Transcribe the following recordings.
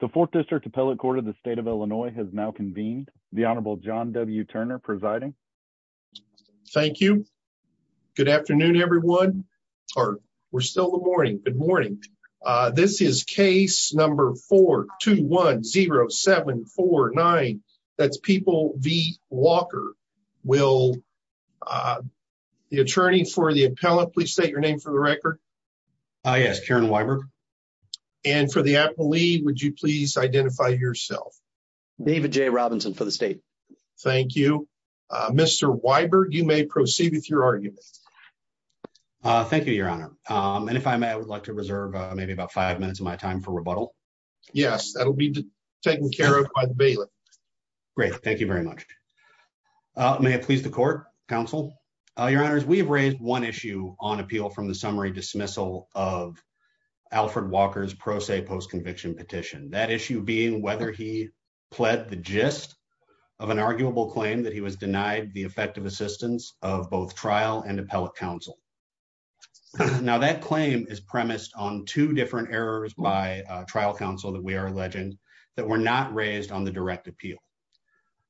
The Fourth District Appellate Court of the State of Illinois has now convened, the Honorable John W. Turner presiding. Thank you. Good afternoon, everyone. Or, we're still in the morning. Good morning. This is case number 4210749. That's People v. Walker. Will the attorney for the appellate please state your name for the record? Yes, Karen Weiber. And for the appellee, would you please identify yourself? David J. Robinson for the state. Thank you. Mr. Weiber, you may proceed with your argument. Thank you, Your Honor. And if I may, I would like to reserve maybe about five minutes of my time for rebuttal. Yes, that will be taken care of by the bailiff. Great. Thank you very much. May it please the court, counsel? Your Honors, we have raised one issue on appeal from the summary dismissal of Alfred Walker's pro se post-conviction petition. That issue being whether he pled the gist of an arguable claim that he was denied the effective assistance of both trial and appellate counsel. Now, that claim is premised on two different errors by trial counsel that we are alleging that were not raised on the direct appeal.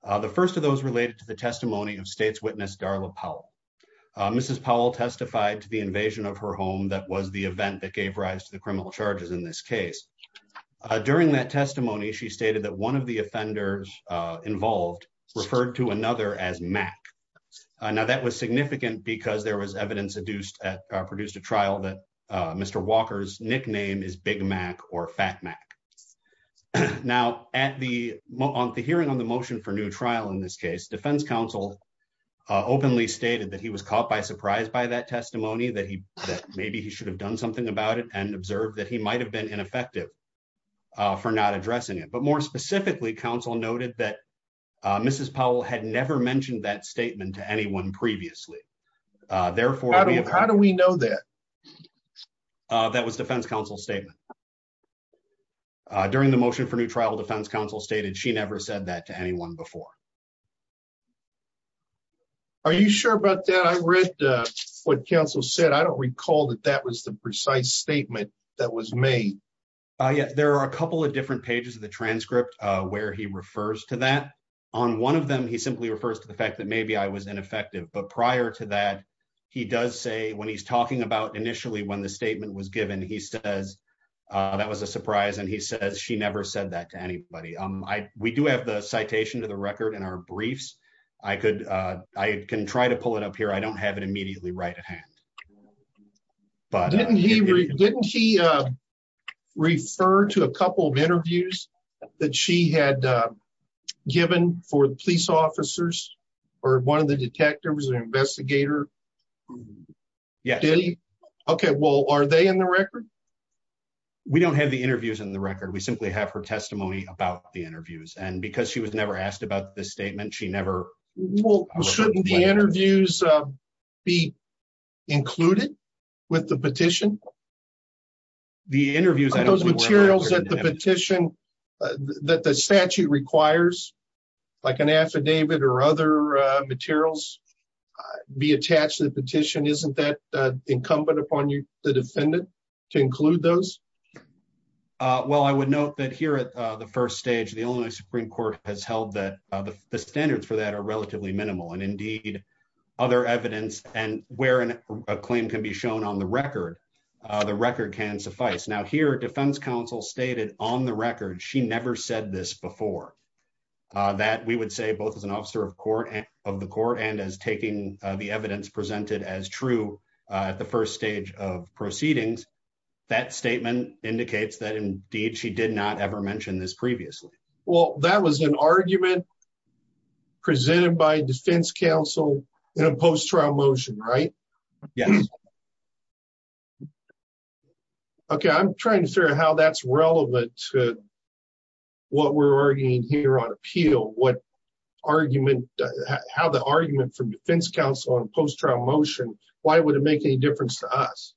The first of those related to the testimony of state's witness Darla Powell. Mrs. Powell testified to the invasion of her home that was the event that gave rise to the criminal charges in this case. During that testimony, she stated that one of the offenders involved referred to another as Mac. Now, that was significant because there was evidence produced at trial that Mr. Walker's nickname is Big Mac or Fat Mac. Now, at the hearing on the motion for new trial in this case, defense counsel openly stated that he was caught by surprise by that testimony, that maybe he should have done something about it and observed that he might have been ineffective for not addressing it. But more specifically, counsel noted that Mrs. Powell had never mentioned that statement to anyone previously. How do we know that? That was defense counsel's statement. During the motion for new trial, defense counsel stated she never said that to anyone before. Are you sure about that? I read what counsel said. I don't recall that that was the precise statement that was made. There are a couple of different pages of the transcript where he refers to that. On one of them, he simply refers to the fact that maybe I was ineffective. But prior to that, he does say when he's talking about initially when the statement was given, he says that was a surprise. And he says she never said that to anybody. We do have the citation to the record in our briefs. I could I can try to pull it up here. I don't have it immediately right at hand. But didn't he didn't he refer to a couple of interviews that she had given for the police officers or one of the detectives or investigator? Yes. OK, well, are they in the record? We don't have the interviews in the record. We simply have her testimony about the interviews. And because she was never asked about the statement, she never will. Shouldn't the interviews be included with the petition? The interviews, those materials that the petition that the statute requires, like an affidavit or other materials, be attached to the petition. Isn't that incumbent upon you, the defendant, to include those? Well, I would note that here at the first stage, the Illinois Supreme Court has held that the standards for that are relatively minimal and indeed other evidence. And where a claim can be shown on the record, the record can suffice. Now, here, defense counsel stated on the record, she never said this before, that we would say both as an officer of court and of the court and as taking the evidence presented as true at the first stage of proceedings. That statement indicates that, indeed, she did not ever mention this previously. Well, that was an argument presented by defense counsel in a post-trial motion, right? Yes. OK, I'm trying to figure out how that's relevant to what we're arguing here on appeal. What argument, how the argument from defense counsel on post-trial motion, why would it make any difference to us?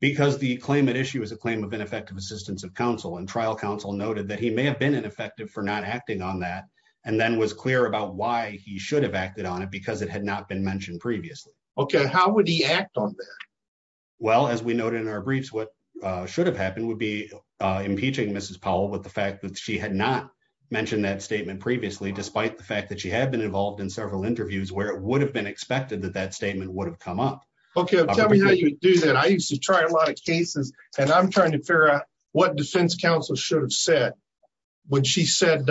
Because the claim at issue is a claim of ineffective assistance of counsel and trial counsel noted that he may have been ineffective for not acting on that and then was clear about why he should have acted on it because it had not been mentioned previously. OK, how would he act on that? Well, as we noted in our briefs, what should have happened would be impeaching Mrs. Powell with the fact that she had not mentioned that statement previously, despite the fact that she had been involved in several interviews where it would have been expected that that statement would have come up. OK, tell me how you do that. I used to try a lot of cases and I'm trying to figure out what defense counsel should have said when she said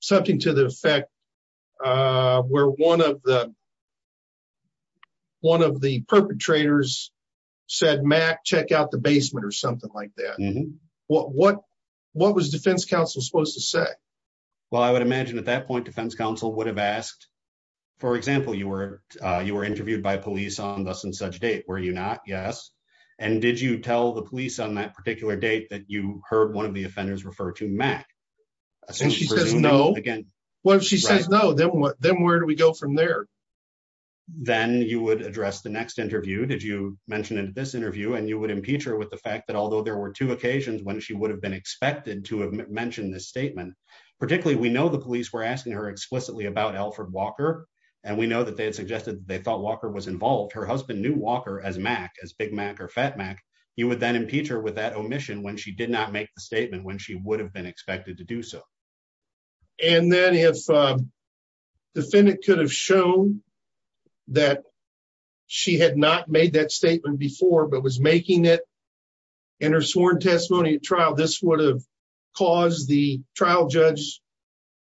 something to the effect where one of the one of the perpetrators said, Mac, check out the basement or something like that. What what what was defense counsel supposed to say? Well, I would imagine at that point, defense counsel would have asked, for example, you were you were interviewed by police on thus and such date, were you not? Yes. And did you tell the police on that particular date that you heard one of the offenders refer to Mac? She says no again. Well, if she says no, then where do we go from there? Then you would address the next interview, did you mention in this interview and you would impeach her with the fact that although there were two occasions when she would have been expected to have mentioned this statement, particularly we know the police were asking her explicitly about Alfred Walker. And we know that they had suggested they thought Walker was involved. Her husband knew Walker as Mac, as Big Mac or Fat Mac. You would then impeach her with that omission when she did not make the statement when she would have been expected to do so. And then if the defendant could have shown that she had not made that statement before but was making it in her sworn testimony trial, this would have caused the trial judge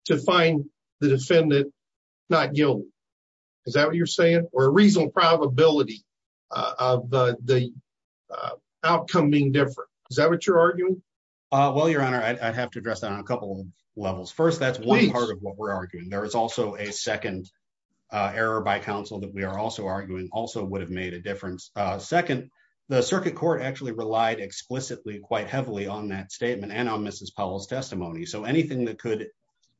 to find the defendant not guilty. Is that what you're saying? Or a reasonable probability of the outcome being different? Is that what you're arguing? Well, Your Honor, I'd have to address that on a couple levels. First, that's one part of what we're arguing. There is also a second error by counsel that we are also arguing also would have made a difference. Second, the circuit court actually relied explicitly quite heavily on that statement and on Mrs. Powell's testimony. So anything that could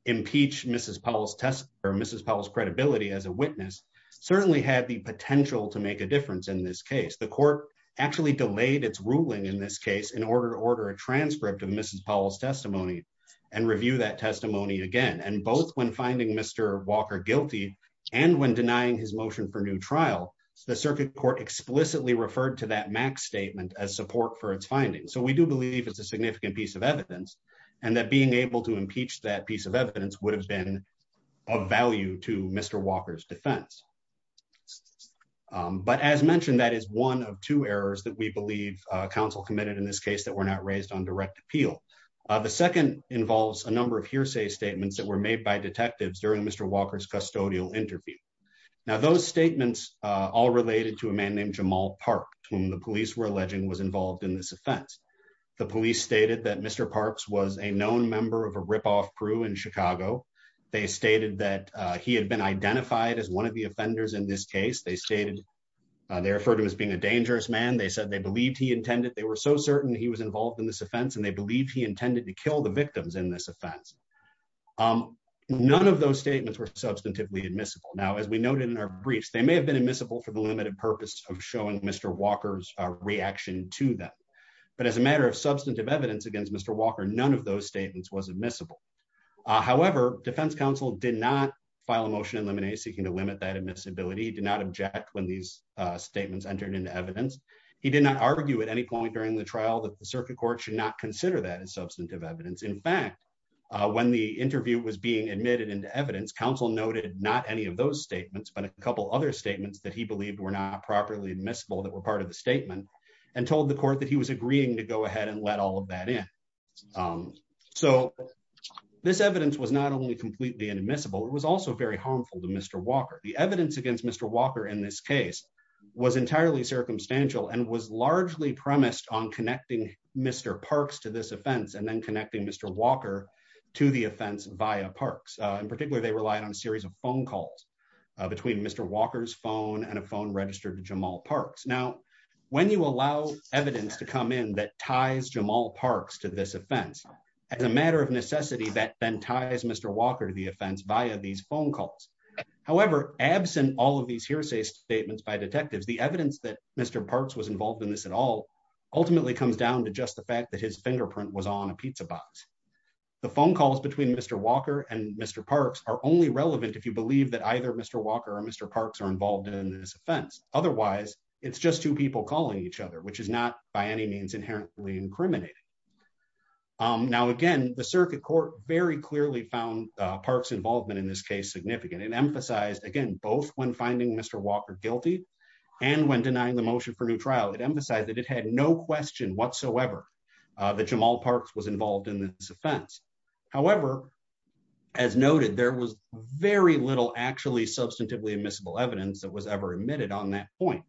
impeach Mrs. Powell's credibility as a witness certainly had the potential to make a difference in this case. The court actually delayed its ruling in this case in order to order a transcript of Mrs. Powell's testimony and review that testimony again. And both when finding Mr. Walker guilty and when denying his motion for new trial, the circuit court explicitly referred to that Mac statement as support for its findings. So we do believe it's a significant piece of evidence and that being able to impeach that piece of evidence would have been of value to Mr. Walker's defense. But as mentioned, that is one of two errors that we believe counsel committed in this case that were not raised on direct appeal. The second involves a number of hearsay statements that were made by detectives during Mr. Walker's custodial interview. Now, those statements all related to a man named Jamal Park, whom the police were alleging was involved in this offense. The police stated that Mr. Parks was a known member of a ripoff crew in Chicago. They stated that he had been identified as one of the offenders in this case. They stated they referred to as being a dangerous man. They said they believed he intended they were so certain he was involved in this offense and they believed he intended to kill the victims in this offense. None of those statements were substantively admissible. Now, as we noted in our briefs, they may have been admissible for the limited purpose of showing Mr. Walker's reaction to that. But as a matter of substantive evidence against Mr. Walker, none of those statements was admissible. However, defense counsel did not file a motion in limine seeking to limit that admissibility. He did not object when these statements entered into evidence. He did not argue at any point during the trial that the circuit court should not consider that as substantive evidence. In fact, when the interview was being admitted into evidence, counsel noted not any of those statements, but a couple other statements that he believed were not properly admissible that were part of the statement and told the court that he was agreeing to go ahead and let all of that in. So this evidence was not only completely inadmissible, it was also very harmful to Mr. Walker. The evidence against Mr. Walker in this case was entirely circumstantial and was largely premised on connecting Mr. Parks to this offense and then connecting Mr. Walker to the offense via Parks. In particular, they relied on a series of phone calls between Mr. Walker's phone and a phone registered to Jamal Parks. Now, when you allow evidence to come in that ties Jamal Parks to this offense, as a matter of necessity, that then ties Mr. Walker to the offense via these phone calls. However, absent all of these hearsay statements by detectives, the evidence that Mr. Parks was involved in this at all ultimately comes down to just the fact that his fingerprint was on a pizza box. The phone calls between Mr. Walker and Mr. Parks are only relevant if you believe that either Mr. Walker or Mr. Parks are involved in this offense. Otherwise, it's just two people calling each other, which is not by any means inherently incriminating. Now, again, the circuit court very clearly found Parks' involvement in this case significant. It emphasized, again, both when finding Mr. Walker guilty and when denying the motion for new trial, it emphasized that it had no question whatsoever that Jamal Parks was involved in this offense. However, as noted, there was very little actually substantively admissible evidence that was ever admitted on that point.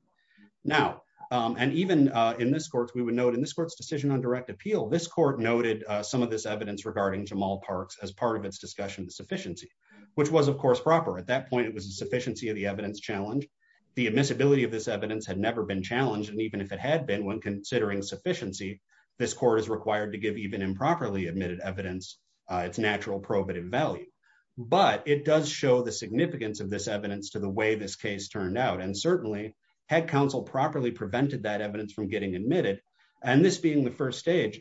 Now, and even in this court, we would note in this court's decision on direct appeal, this court noted some of this evidence regarding Jamal Parks as part of its discussion of sufficiency, which was, of course, proper. At that point, it was a sufficiency of the evidence challenge. The admissibility of this evidence had never been challenged, and even if it had been, when considering sufficiency, this court is required to give even improperly admitted evidence its natural probative value. But it does show the significance of this evidence to the way this case turned out. And certainly, had counsel properly prevented that evidence from getting admitted, and this being the first stage,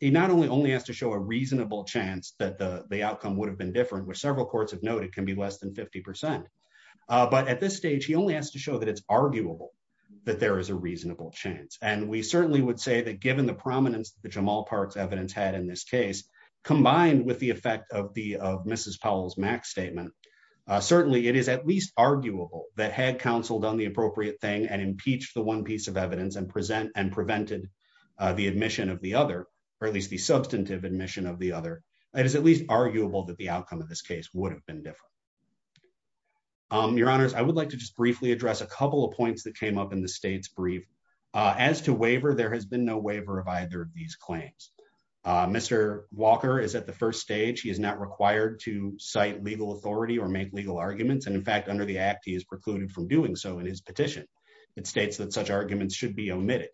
he not only only has to show a reasonable chance that the outcome would have been different, which several courts have noted can be less than 50%, but at this stage, he only has to show that it's arguable that there is a reasonable chance. And we certainly would say that given the prominence that Jamal Parks' evidence had in this case, combined with the effect of Mrs. Powell's Max statement, certainly it is at least arguable that had counsel done the appropriate thing and impeached the one piece of evidence and prevented the admission of the other, or at least the substantive admission of the other, it is at least arguable that the outcome of this case would have been different. Your Honors, I would like to just briefly address a couple of points that came up in the state's brief. As to waiver, there has been no waiver of either of these claims. Mr. Walker is at the first stage. He is not required to cite legal authority or make legal arguments. And in fact, under the act, he is precluded from doing so in his petition. It states that such arguments should be omitted.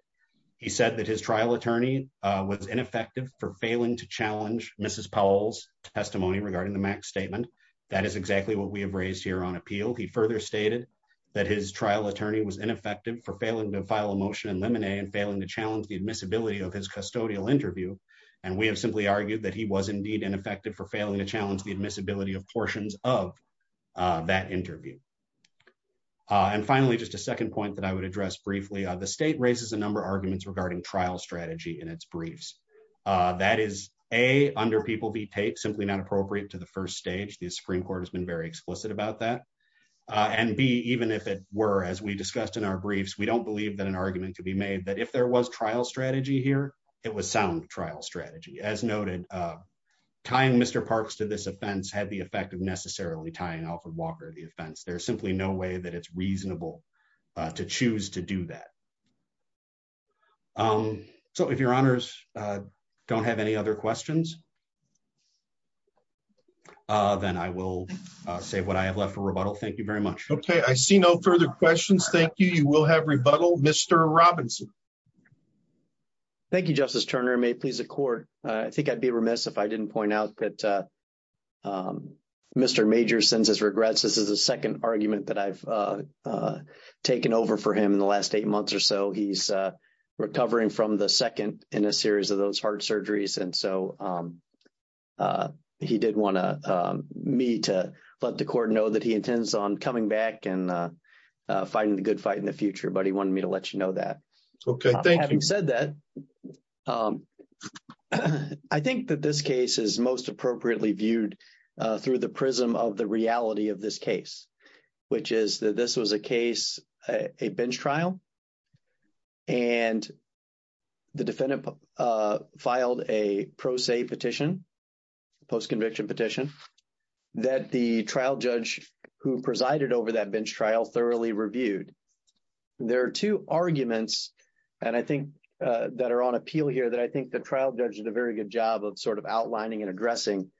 He said that his trial attorney was ineffective for failing to challenge Mrs. Powell's testimony regarding the Max statement. That is exactly what we have raised here on appeal. He further stated that his trial attorney was ineffective for failing to file a motion in limine and failing to challenge the admissibility of his custodial interview. And we have simply argued that he was indeed ineffective for failing to challenge the admissibility of portions of that interview. And finally, just a second point that I would address briefly, the state raises a number of arguments regarding trial strategy in its briefs. That is, A, under People v. Tate, simply not appropriate to the first stage. The Supreme Court has been very explicit about that. And B, even if it were, as we discussed in our briefs, we don't believe that an argument could be made that if there was trial strategy here, it was sound trial strategy. As noted, tying Mr. Parks to this offense had the effect of necessarily tying Alfred Walker to the offense. There's simply no way that it's reasonable to choose to do that. So if your honors don't have any other questions, then I will say what I have left for rebuttal. Thank you very much. OK, I see no further questions. Thank you. You will have rebuttal, Mr. Robinson. Thank you, Justice Turner. May it please the court. I think I'd be remiss if I didn't point out that Mr. Major sends his regrets. This is the second argument that I've taken over for him in the last eight months or so. He's recovering from the second in a series of those heart surgeries. And so he did want me to let the court know that he intends on coming back and fighting the good fight in the future. But he wanted me to let you know that. OK, thank you. Having said that, I think that this case is most appropriately viewed through the prism of the reality of this case, which is that this was a case, a bench trial, and the defendant filed a pro se petition, post-conviction petition, that the trial judge who presided over that bench trial thoroughly reviewed. There are two arguments that are on appeal here that I think the trial judge did a very good job of sort of outlining and addressing.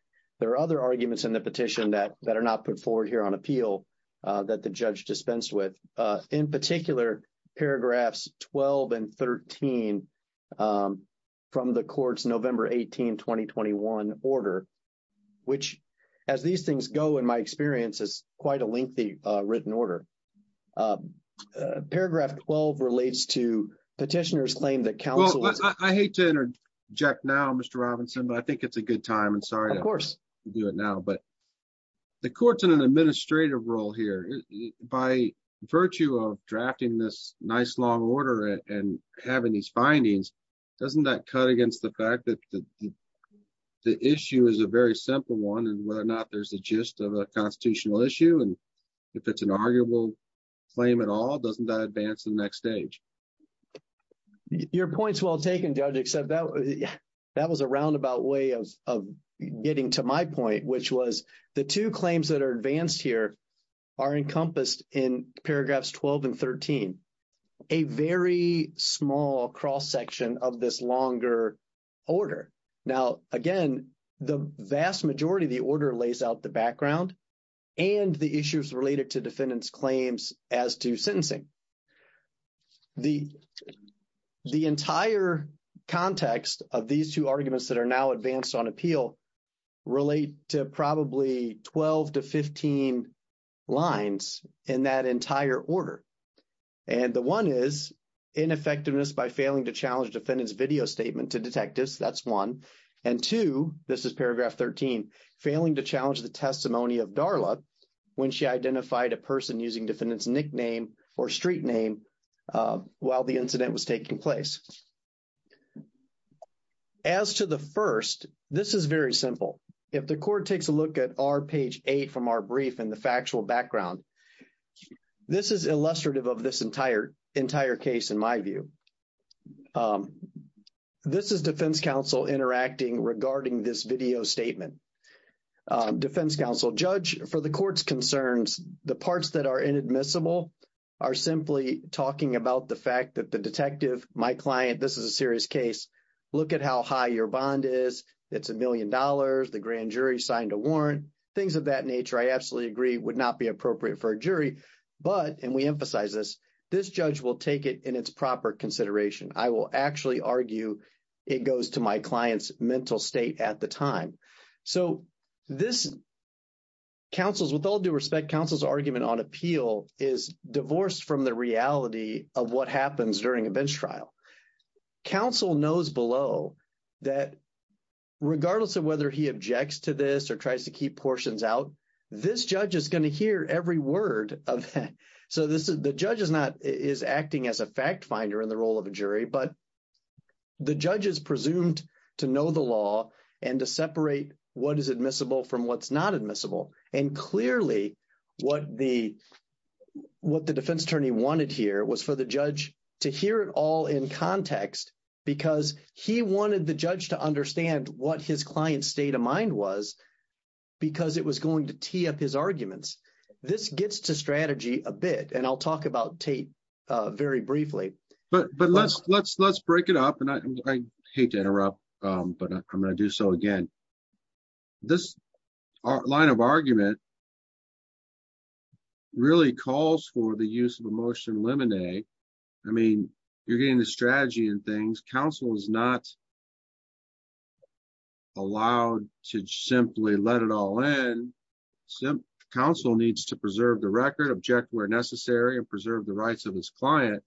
There are other arguments in the petition that are not put forward here on appeal that the judge dispensed with, in particular, paragraphs 12 and 13 from the court's November 18, 2021 order, which, as these things go in my experience, is quite a lengthy written order. Paragraph 12 relates to petitioner's claim that counsel... Well, I hate to interject now, Mr. Robinson, but I think it's a good time. I'm sorry to do it now. Of course. But the court's in an administrative role here. By virtue of drafting this nice long order and having these findings, doesn't that cut against the fact that the issue is a very simple one, and whether or not there's a gist of a constitutional issue, and if it's an arguable claim at all, doesn't that advance the next stage? Your point's well taken, Judge, except that was a roundabout way of getting to my point, which was the two claims that are advanced here are encompassed in paragraphs 12 and 13, a very small cross-section of this longer order. Now, again, the vast majority of the order lays out the background and the issues related to defendant's claims as to sentencing. The entire context of these two arguments that are now advanced on appeal relate to probably 12 to 15 lines in that entire order. And the one is ineffectiveness by failing to challenge defendant's video statement to detectives. That's one. And two, this is paragraph 13, failing to challenge the testimony of Darla when she identified a person using defendant's nickname or street name while the incident was taking place. As to the first, this is very simple. If the court takes a look at our page 8 from our brief and the factual background, this is illustrative of this entire case in my view. This is defense counsel interacting regarding this video statement. Defense counsel, judge, for the court's concerns, the parts that are inadmissible are simply talking about the fact that the detective, my client, this is a serious case, look at how high your bond is. It's a million dollars. The grand jury signed a warrant. Things of that nature, I absolutely agree, would not be appropriate for a jury. But, and we emphasize this, this judge will take it in its proper consideration. I will actually argue it goes to my client's mental state at the time. So this counsel's, with all due respect, counsel's argument on appeal is divorced from the reality of what happens during a bench trial. Counsel knows below that regardless of whether he objects to this or tries to keep portions out, this judge is going to hear every word of that. So the judge is not, is acting as a fact finder in the role of a jury, but the judge is presumed to know the law and to separate what is admissible from what's not admissible. And clearly what the defense attorney wanted here was for the judge to hear it all in context because he wanted the judge to understand what his client's state of mind was because it was going to tee up his arguments. This gets to strategy a bit and I'll talk about Tate very briefly. But, but let's, let's, let's break it up and I hate to interrupt, but I'm going to do so again. This line of argument really calls for the use of emotion lemonade. I mean, you're getting the strategy and things. Counsel is not allowed to simply let it all in. Council needs to preserve the record object where necessary and preserve the rights of his client.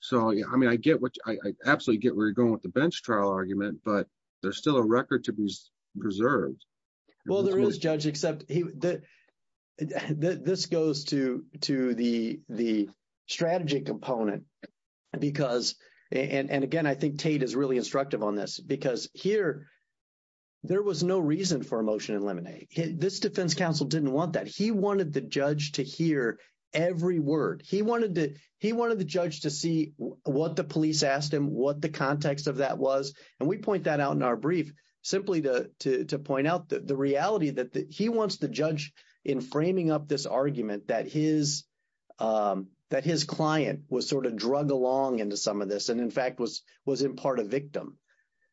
So, I mean, I get what I absolutely get where you're going with the bench trial argument, but there's still a record to be preserved. Well, there is judge, except that this goes to to the, the strategy component because and again, I think Tate is really instructive on this because here there was no reason for emotion and lemonade. This defense counsel didn't want that. He wanted the judge to hear every word. He wanted the judge to see what the police asked him what the context of that was. And we point that out in our brief, simply to point out that the reality that he wants the judge in framing up this argument that his that his client was sort of drug along into some of this. And, in fact, was was in part of victim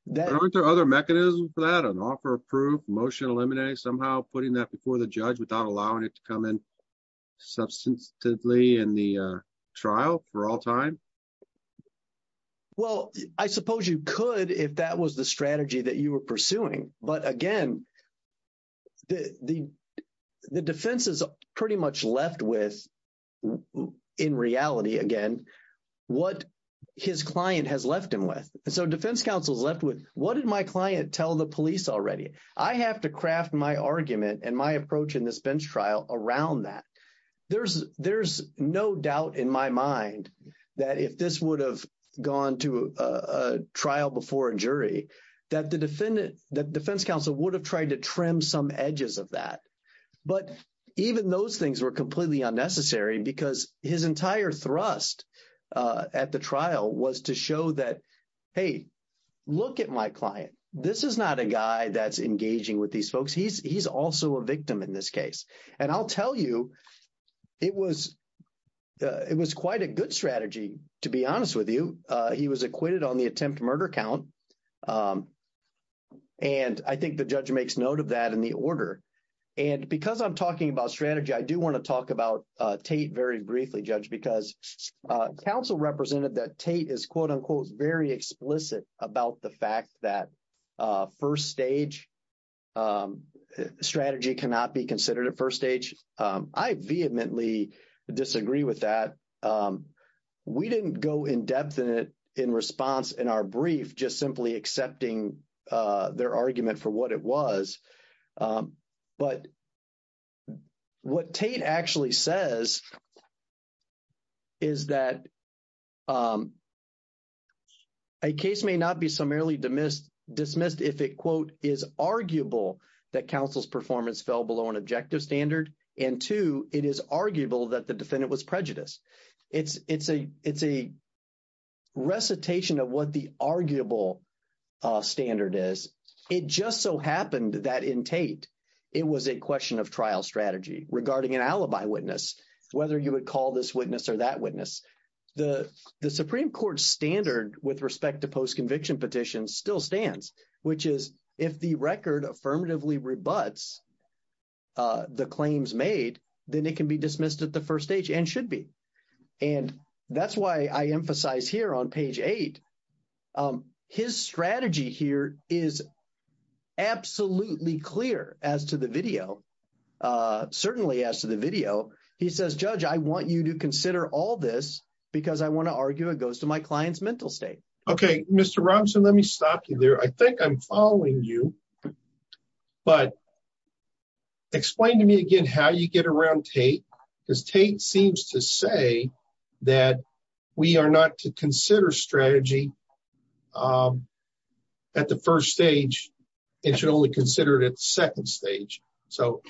that aren't there other mechanisms that an offer of proof motion eliminate somehow putting that before the judge without allowing it to come in. Substantively in the trial for all time. Well, I suppose you could if that was the strategy that you were pursuing. But again, the, the, the defense is pretty much left with in reality again, what his client has left him with. So defense counsel is left with what did my client tell the police already? I have to craft my argument and my approach in this bench trial around that. There's there's no doubt in my mind that if this would have gone to a trial before a jury that the defendant that defense counsel would have tried to trim some edges of that. But even those things were completely unnecessary because his entire thrust at the trial was to show that, hey, look at my client. This is not a guy that's engaging with these folks. He's he's also a victim in this case. And I'll tell you, it was it was quite a good strategy, to be honest with you. He was acquitted on the attempt murder count. And I think the judge makes note of that in the order. And because I'm talking about strategy, I do want to talk about Tate very briefly, judge, because counsel represented that Tate is, quote unquote, very explicit about the fact that first stage strategy cannot be considered at first stage. I vehemently disagree with that. We didn't go in depth in response in our brief just simply accepting their argument for what it was. But what Tate actually says is that a case may not be summarily dismissed if it, quote, is arguable that counsel's performance fell below an objective standard and two, it is arguable that the defendant was prejudiced. It's a recitation of what the arguable standard is. It just so happened that in Tate, it was a question of trial strategy regarding an alibi witness, whether you would call this witness or that witness. The Supreme Court standard with respect to post-conviction petitions still stands, which is if the record affirmatively rebuts the claims made, then it can be dismissed at the first stage and should be. And that's why I emphasize here on page eight, his strategy here is absolutely clear as to the video, certainly as to the video. He says, judge, I want you to consider all this because I want to argue it goes to my client's mental state. OK, Mr. Robinson, let me stop you there. I think I'm following you, but explain to me again how you get around Tate, because Tate seems to say that we are not to consider strategy at the first stage. It should only consider it at the second stage. So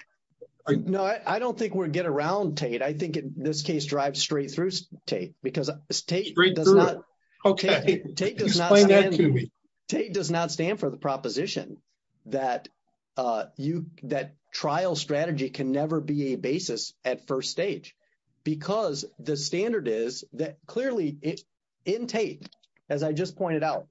I know I don't think we're get around Tate. I think in this case, drive straight through Tate because Tate does not. OK, Tate does not stand for the proposition that you that trial strategy can never be a basis at first stage. Because the standard is that clearly in Tate, as I just pointed out,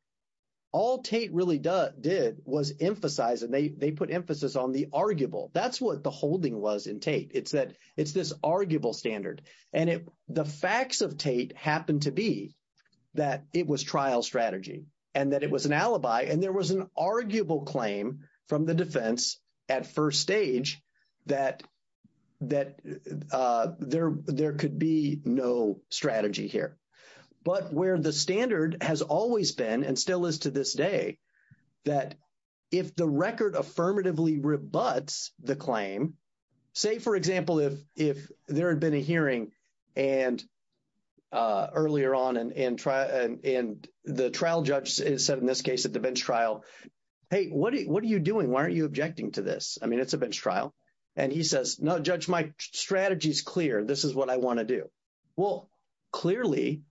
all Tate really did was emphasize and they put emphasis on the arguable. That's what the holding was in Tate. It's that it's this arguable standard. And the facts of Tate happened to be that it was trial strategy and that it was an alibi. And there was an arguable claim from the defense at first stage that that there could be no strategy here. But where the standard has always been and still is to this day, that if the record affirmatively rebuts the claim, say, for example, if there had been a hearing and earlier on and the trial judge said in this case at the bench trial, hey, what are you doing? Why aren't you objecting to this? I mean, it's a bench trial. And he says, no, judge, my strategy is clear. This is what I want to do. Well, clearly,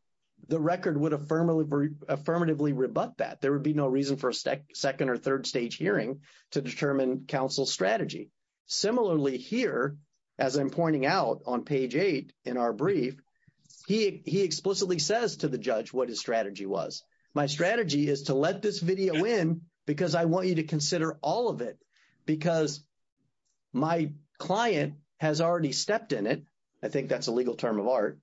the record would affirmatively rebut that. There would be no reason for a second or third stage hearing to determine counsel's strategy. Similarly, here, as I'm pointing out on page eight in our brief, he explicitly says to the judge what his strategy was. My strategy is to let this video in because I want you to consider all of it because my client has already stepped in it. I think that's a legal term of art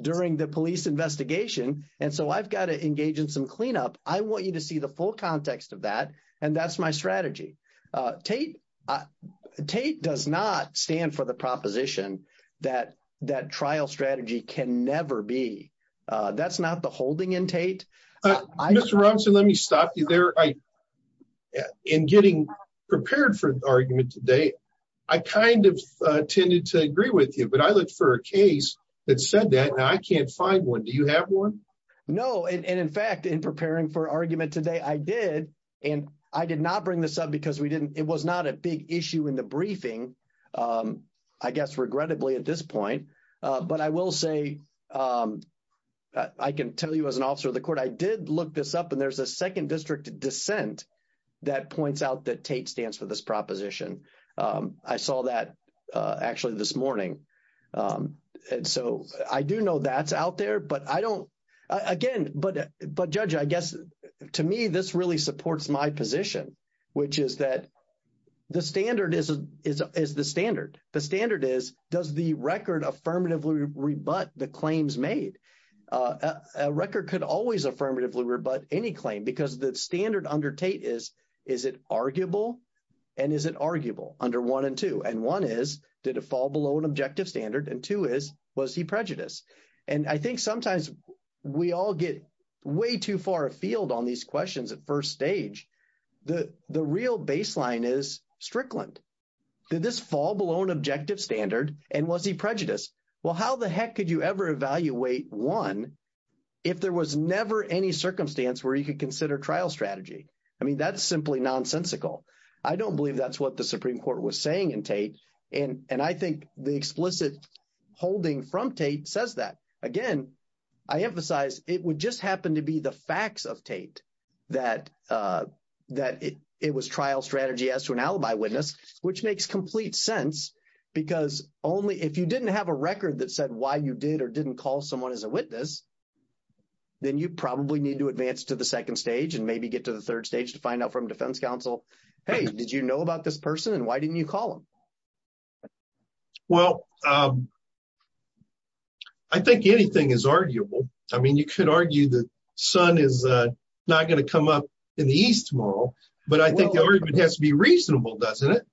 during the police investigation. And so I've got to engage in some cleanup. I want you to see the full context of that. And that's my strategy. Tate does not stand for the proposition that that trial strategy can never be. That's not the holding in Tate. Mr. Robinson, let me stop you there. In getting prepared for argument today, I kind of tended to agree with you, but I look for a case that said that I can't find one. Do you have one? No. And in fact, in preparing for argument today, I did. And I did not bring this up because we didn't it was not a big issue in the briefing, I guess, regrettably at this point. But I will say I can tell you as an officer of the court, I did look this up and there's a second district dissent that points out that Tate stands for this proposition. I saw that actually this morning. And so I do know that's out there, but I don't again. But but judge, I guess to me, this really supports my position, which is that the standard is the standard. The standard is does the record affirmatively rebut the claims made a record could always affirmatively rebut any claim because the standard under Tate is, is it arguable and is it arguable under one and two? And one is did it fall below an objective standard? And two is was he prejudiced? And I think sometimes we all get way too far afield on these questions at first stage. The the real baseline is Strickland. Did this fall below an objective standard? And was he prejudiced? Well, how the heck could you ever evaluate one if there was never any circumstance where you could consider trial strategy? I mean, that's simply nonsensical. I don't believe that's what the Supreme Court was saying in Tate. And and I think the explicit holding from Tate says that again, I emphasize it would just happen to be the facts of Tate that that it was trial strategy as to an alibi witness, which makes complete sense. Because only if you didn't have a record that said why you did or didn't call someone as a witness, then you probably need to advance to the second stage and maybe get to the third stage to find out from defense counsel. Hey, did you know about this person? And why didn't you call him? Well, I think anything is arguable. I mean, you could argue the sun is not going to come up in the East Mall. But I think it has to be reasonable, doesn't it?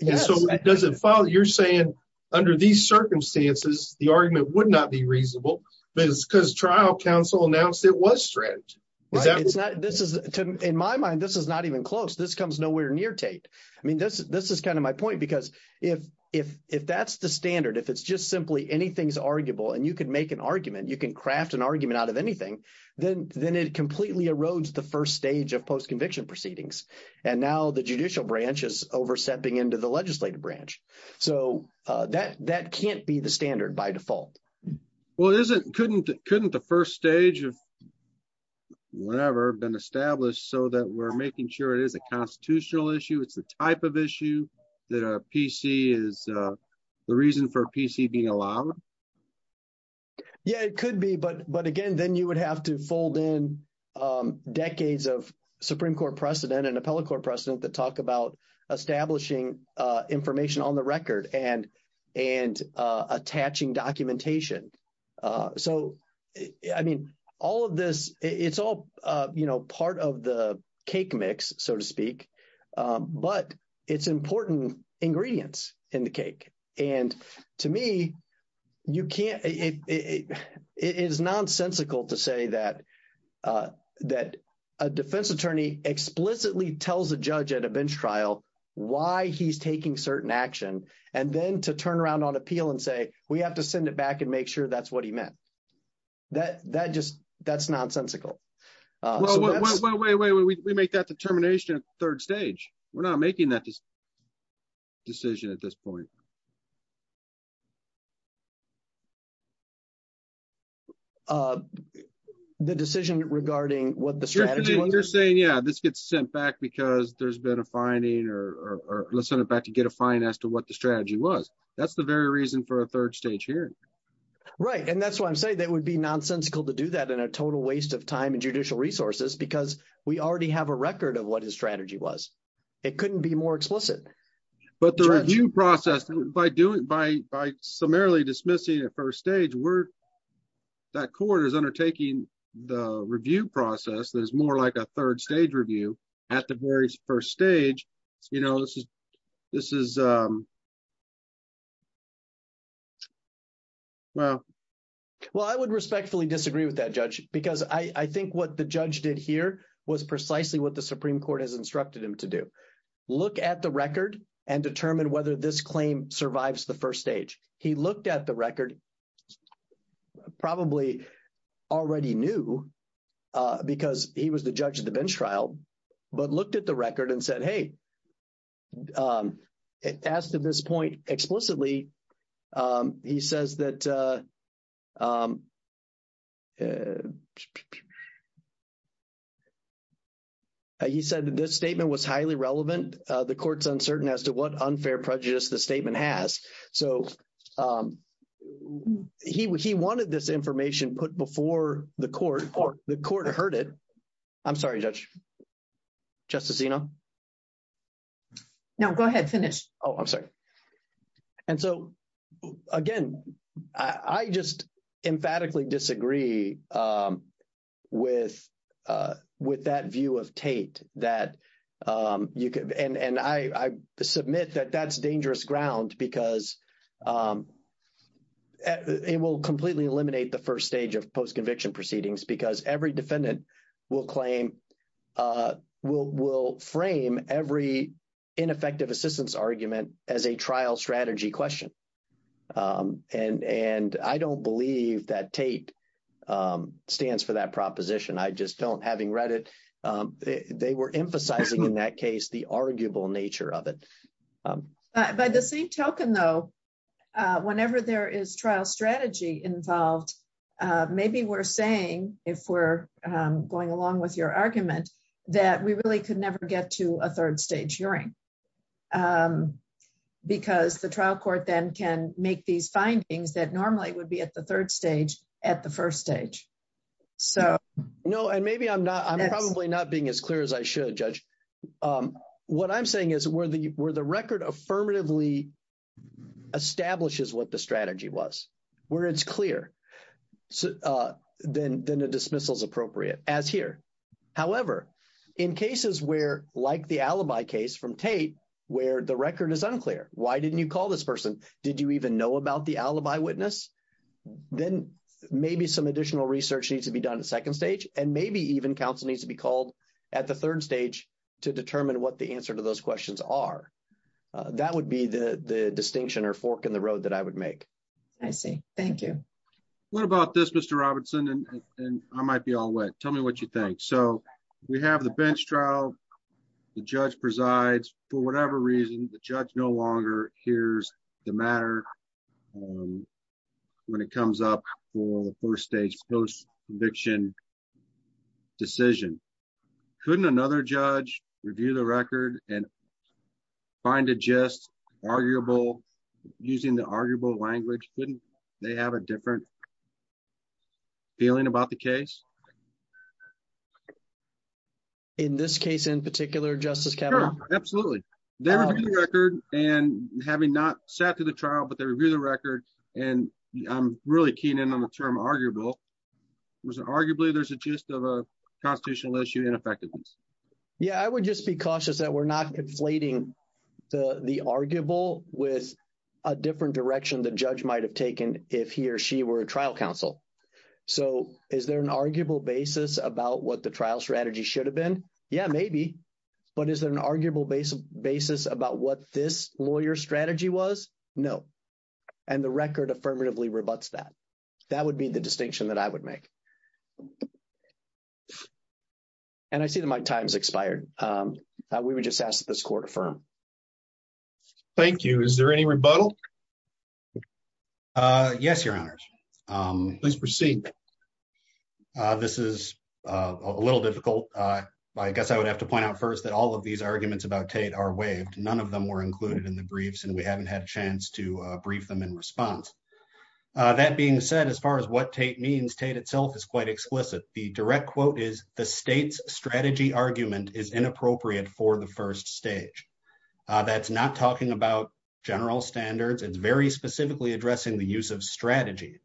And so it doesn't follow. You're saying under these circumstances, the argument would not be reasonable, because trial counsel announced it was strange. This is in my mind, this is not even close. This comes nowhere near Tate. I mean, this this is kind of my point, because if if if that's the standard, if it's just simply anything's arguable, and you can make an argument, you can craft an argument out of anything, then then it completely erodes the first stage of post conviction proceedings. And now the judicial branch is overstepping into the legislative branch. So that that can't be the standard by default. Well, it isn't couldn't couldn't the first stage of whatever been established so that we're making sure it is a constitutional issue. It's the type of issue that a PC is the reason for PC being allowed. Yeah, it could be. But but again, then you would have to fold in decades of Supreme Court precedent and appellate court precedent that talk about establishing information on the record and and attaching documentation. So, I mean, all of this, it's all, you know, part of the cake mix, so to speak. But it's important ingredients in the cake. And to me, you can't it is nonsensical to say that, that a defense attorney explicitly tells a judge at a bench trial, why he's taking certain action. And then to turn around on appeal and say, we have to send it back and make sure that's what he meant. That that just that's nonsensical. We make that determination third stage. We're not making that decision at this point. The decision regarding what the strategy you're saying. Yeah, this gets sent back because there's been a finding or listen about to get a fine as to what the strategy was. That's the very reason for a third stage here. Right. And that's why I'm saying that would be nonsensical to do that in a total waste of time and judicial resources, because we already have a record of what his strategy was. It couldn't be more explicit. But the review process by doing by by summarily dismissing at first stage. We're that court is undertaking the review process. There's more like a third stage review at the very first stage. You know, this is this is. Well, well, I would respectfully disagree with that judge, because I think what the judge did here was precisely what the Supreme Court has instructed him to do. Look at the record and determine whether this claim survives the first stage. He looked at the record. Probably already knew because he was the judge of the bench trial, but looked at the record and said, hey, as to this point explicitly, he says that. He said that this statement was highly relevant. The court's uncertain as to what unfair prejudice the statement has. So he he wanted this information put before the court or the court heard it. I'm sorry, Judge. Justice, you know. Now, go ahead. Finish. Oh, I'm sorry. And so, again, I just emphatically disagree with with that view of Tate that you and I submit that that's dangerous ground because. It will completely eliminate the first stage of post conviction proceedings because every defendant will claim will will frame every ineffective assistance argument as a trial strategy question. And and I don't believe that Tate stands for that proposition. I just don't having read it. They were emphasizing in that case, the arguable nature of it. By the same token, though, whenever there is trial strategy involved, maybe we're saying if we're going along with your argument that we really could never get to a third stage hearing. Because the trial court then can make these findings that normally would be at the third stage at the first stage. So. No. And maybe I'm not. I'm probably not being as clear as I should judge. What I'm saying is where the where the record affirmatively establishes what the strategy was, where it's clear. Then then a dismissal is appropriate as here. However, in cases where, like the alibi case from Tate, where the record is unclear. Why didn't you call this person? Did you even know about the alibi witness? Then maybe some additional research needs to be done in the second stage and maybe even counsel needs to be called at the third stage to determine what the answer to those questions are. That would be the distinction or fork in the road that I would make. I see. Thank you. What about this, Mr. Robertson? And I might be all wet. Tell me what you think. So we have the bench trial. The judge presides for whatever reason. The judge no longer hears the matter when it comes up for the first stage post conviction decision. Couldn't another judge review the record and find it just arguable using the arguable language? They have a different. Feeling about the case. In this case in particular, Justice Kavanaugh. Absolutely. The record and having not sat through the trial, but they review the record and I'm really keen in on the term arguable was arguably there's a gist of a constitutional issue and effectiveness. Yeah, I would just be cautious that we're not inflating the arguable with a different direction. The judge might have taken if he or she were a trial counsel. So, is there an arguable basis about what the trial strategy should have been? Yeah, maybe. But is there an arguable base of basis about what this lawyer strategy was? No. And the record affirmatively rebutts that that would be the distinction that I would make. And I see that my time's expired. We would just ask this court affirm. Thank you. Is there any rebuttal? Yes, your honors. Please proceed. This is a little difficult. I guess I would have to point out first that all of these arguments about Tate are waived. None of them were included in the briefs and we haven't had a chance to brief them in response. That being said, as far as what Tate means, Tate itself is quite explicit. The direct quote is the state's strategy argument is inappropriate for the first stage. That's not talking about general standards. It's very specifically addressing the use of strategy.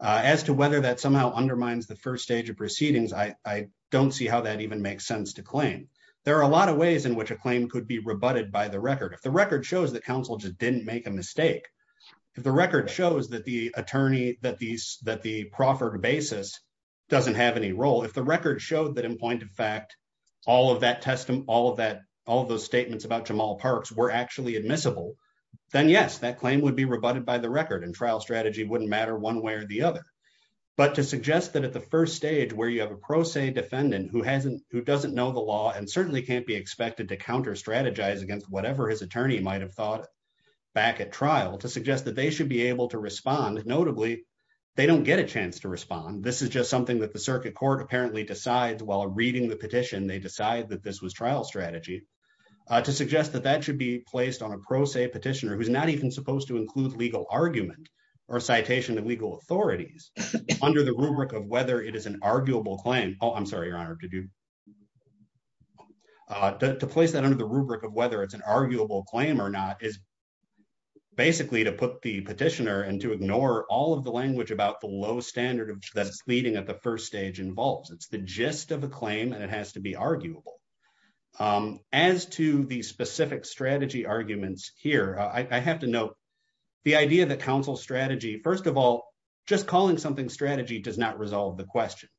As to whether that somehow undermines the first stage of proceedings, I don't see how that even makes sense to claim. There are a lot of ways in which a claim could be rebutted by the record. If the record shows that counsel just didn't make a mistake. If the record shows that the proffered basis doesn't have any role. If the record showed that in point of fact, all of those statements about Jamal Parks were actually admissible. Then yes, that claim would be rebutted by the record and trial strategy wouldn't matter one way or the other. But to suggest that at the first stage where you have a pro se defendant who hasn't who doesn't know the law and certainly can't be expected to counter strategize against whatever his attorney might have thought. Back at trial to suggest that they should be able to respond. Notably, they don't get a chance to respond. This is just something that the circuit court apparently decides while reading the petition. They decide that this was trial strategy. To suggest that that should be placed on a pro se petitioner who's not even supposed to include legal argument or citation to legal authorities under the rubric of whether it is an arguable claim. Oh, I'm sorry, your honor. Did you. To place that under the rubric of whether it's an arguable claim or not is basically to put the petitioner and to ignore all of the language about the low standard of that's leading at the first stage involves it's the gist of a claim and it has to be arguable. As to the specific strategy arguments here, I have to note the idea that counsel strategy. First of all, just calling something strategy does not resolve the question.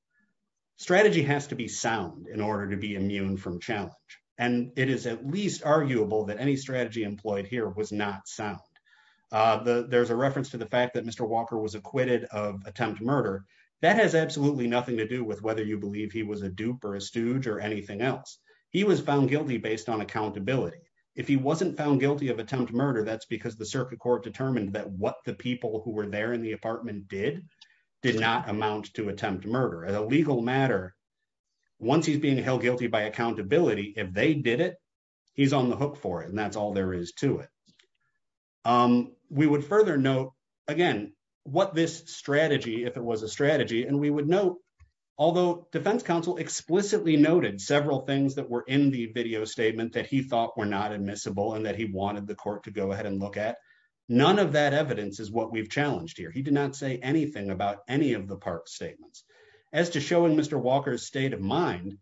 Strategy has to be sound in order to be immune from challenge and it is at least arguable that any strategy employed here was not sound. There's a reference to the fact that Mr. Walker was acquitted of attempt to murder. That has absolutely nothing to do with whether you believe he was a dupe or a stooge or anything else. He was found guilty based on accountability. If he wasn't found guilty of attempt to murder. That's because the circuit court determined that what the people who were there in the apartment did did not amount to attempt to murder as a legal matter. Once he's being held guilty by accountability. If they did it. He's on the hook for it. And that's all there is to it. We would further note, again, what this strategy if it was a strategy and we would know. Although defense counsel explicitly noted several things that were in the video statement that he thought were not admissible and that he wanted the court to go ahead and look at None of that evidence is what we've challenged here. He did not say anything about any of the park statements as to showing Mr. Walker state of mind.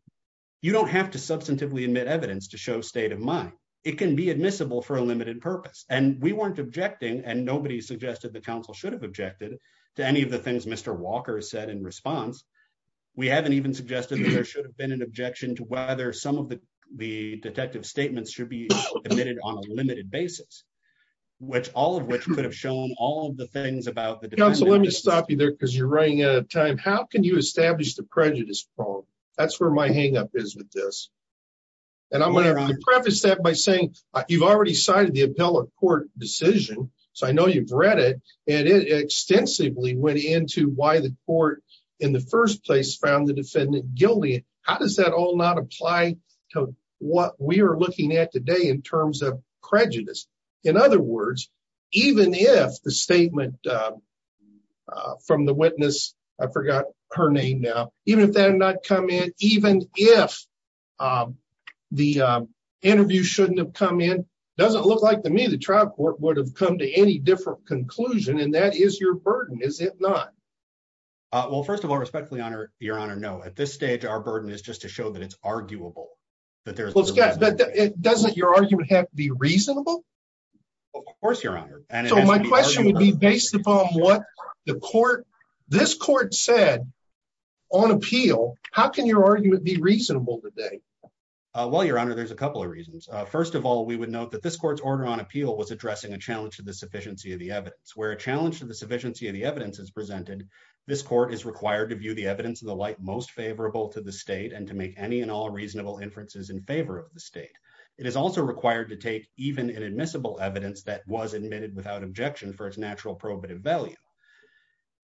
You don't have to substantively admit evidence to show state of mind. It can be admissible for a limited purpose and we weren't objecting and nobody suggested the council should have objected to any of the things Mr. Walker said in response. We haven't even suggested there should have been an objection to whether some of the the detective statements should be admitted on a limited basis, which all of which could have shown all of the things about the And I'm going to preface that by saying you've already cited the appellate court decision. So I know you've read it and it extensively went into why the court in the first place found the defendant guilty. How does that all not apply to what we are looking at today in terms of prejudice. In other words, even if the statement. From the witness. I forgot her name. Now, even if they're not come in, even if The interview shouldn't have come in doesn't look like to me the trial court would have come to any different conclusion. And that is your burden is it not Well, first of all, respectfully honor your honor know at this stage, our burden is just to show that it's arguable that there's It doesn't your argument have to be reasonable. Of course, your honor. And so my question would be based upon what the court. This court said on appeal. How can your argument be reasonable today. Well, your honor. There's a couple of reasons. First of all, we would note that this court's order on appeal was addressing a challenge to the sufficiency of the evidence where a challenge to the sufficiency of the evidence is presented This court is required to view the evidence of the light most favorable to the state and to make any and all reasonable inferences in favor of the state. It is also required to take even an admissible evidence that was admitted without objection for its natural probative value.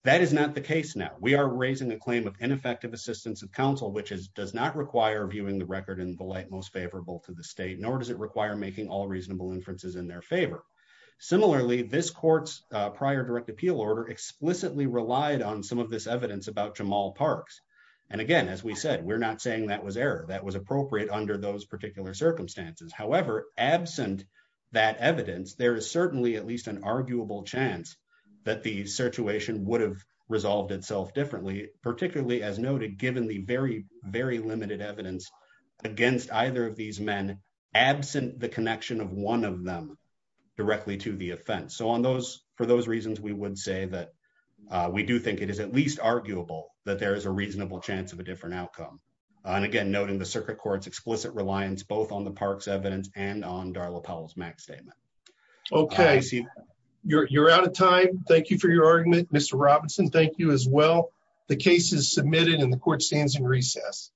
That is not the case. Now we are raising a claim of ineffective assistance of counsel, which is does not require viewing the record in the light most favorable to the state, nor does it require making all reasonable inferences in their favor. Similarly, this court's prior direct appeal order explicitly relied on some of this evidence about Jamal parks. And again, as we said, we're not saying that was error that was appropriate under those particular circumstances. However, absent That evidence. There is certainly at least an arguable chance that the situation would have resolved itself differently, particularly as noted, given the very, very limited evidence. Against either of these men absent the connection of one of them directly to the offense. So on those for those reasons, we would say that We do think it is at least arguable that there is a reasonable chance of a different outcome. And again, noting the circuit courts explicit reliance, both on the parks evidence and on Darla Powell's Mac statement. Okay, you're out of time. Thank you for your argument. Mr. Robinson. Thank you as well. The case is submitted in the court stands in recess.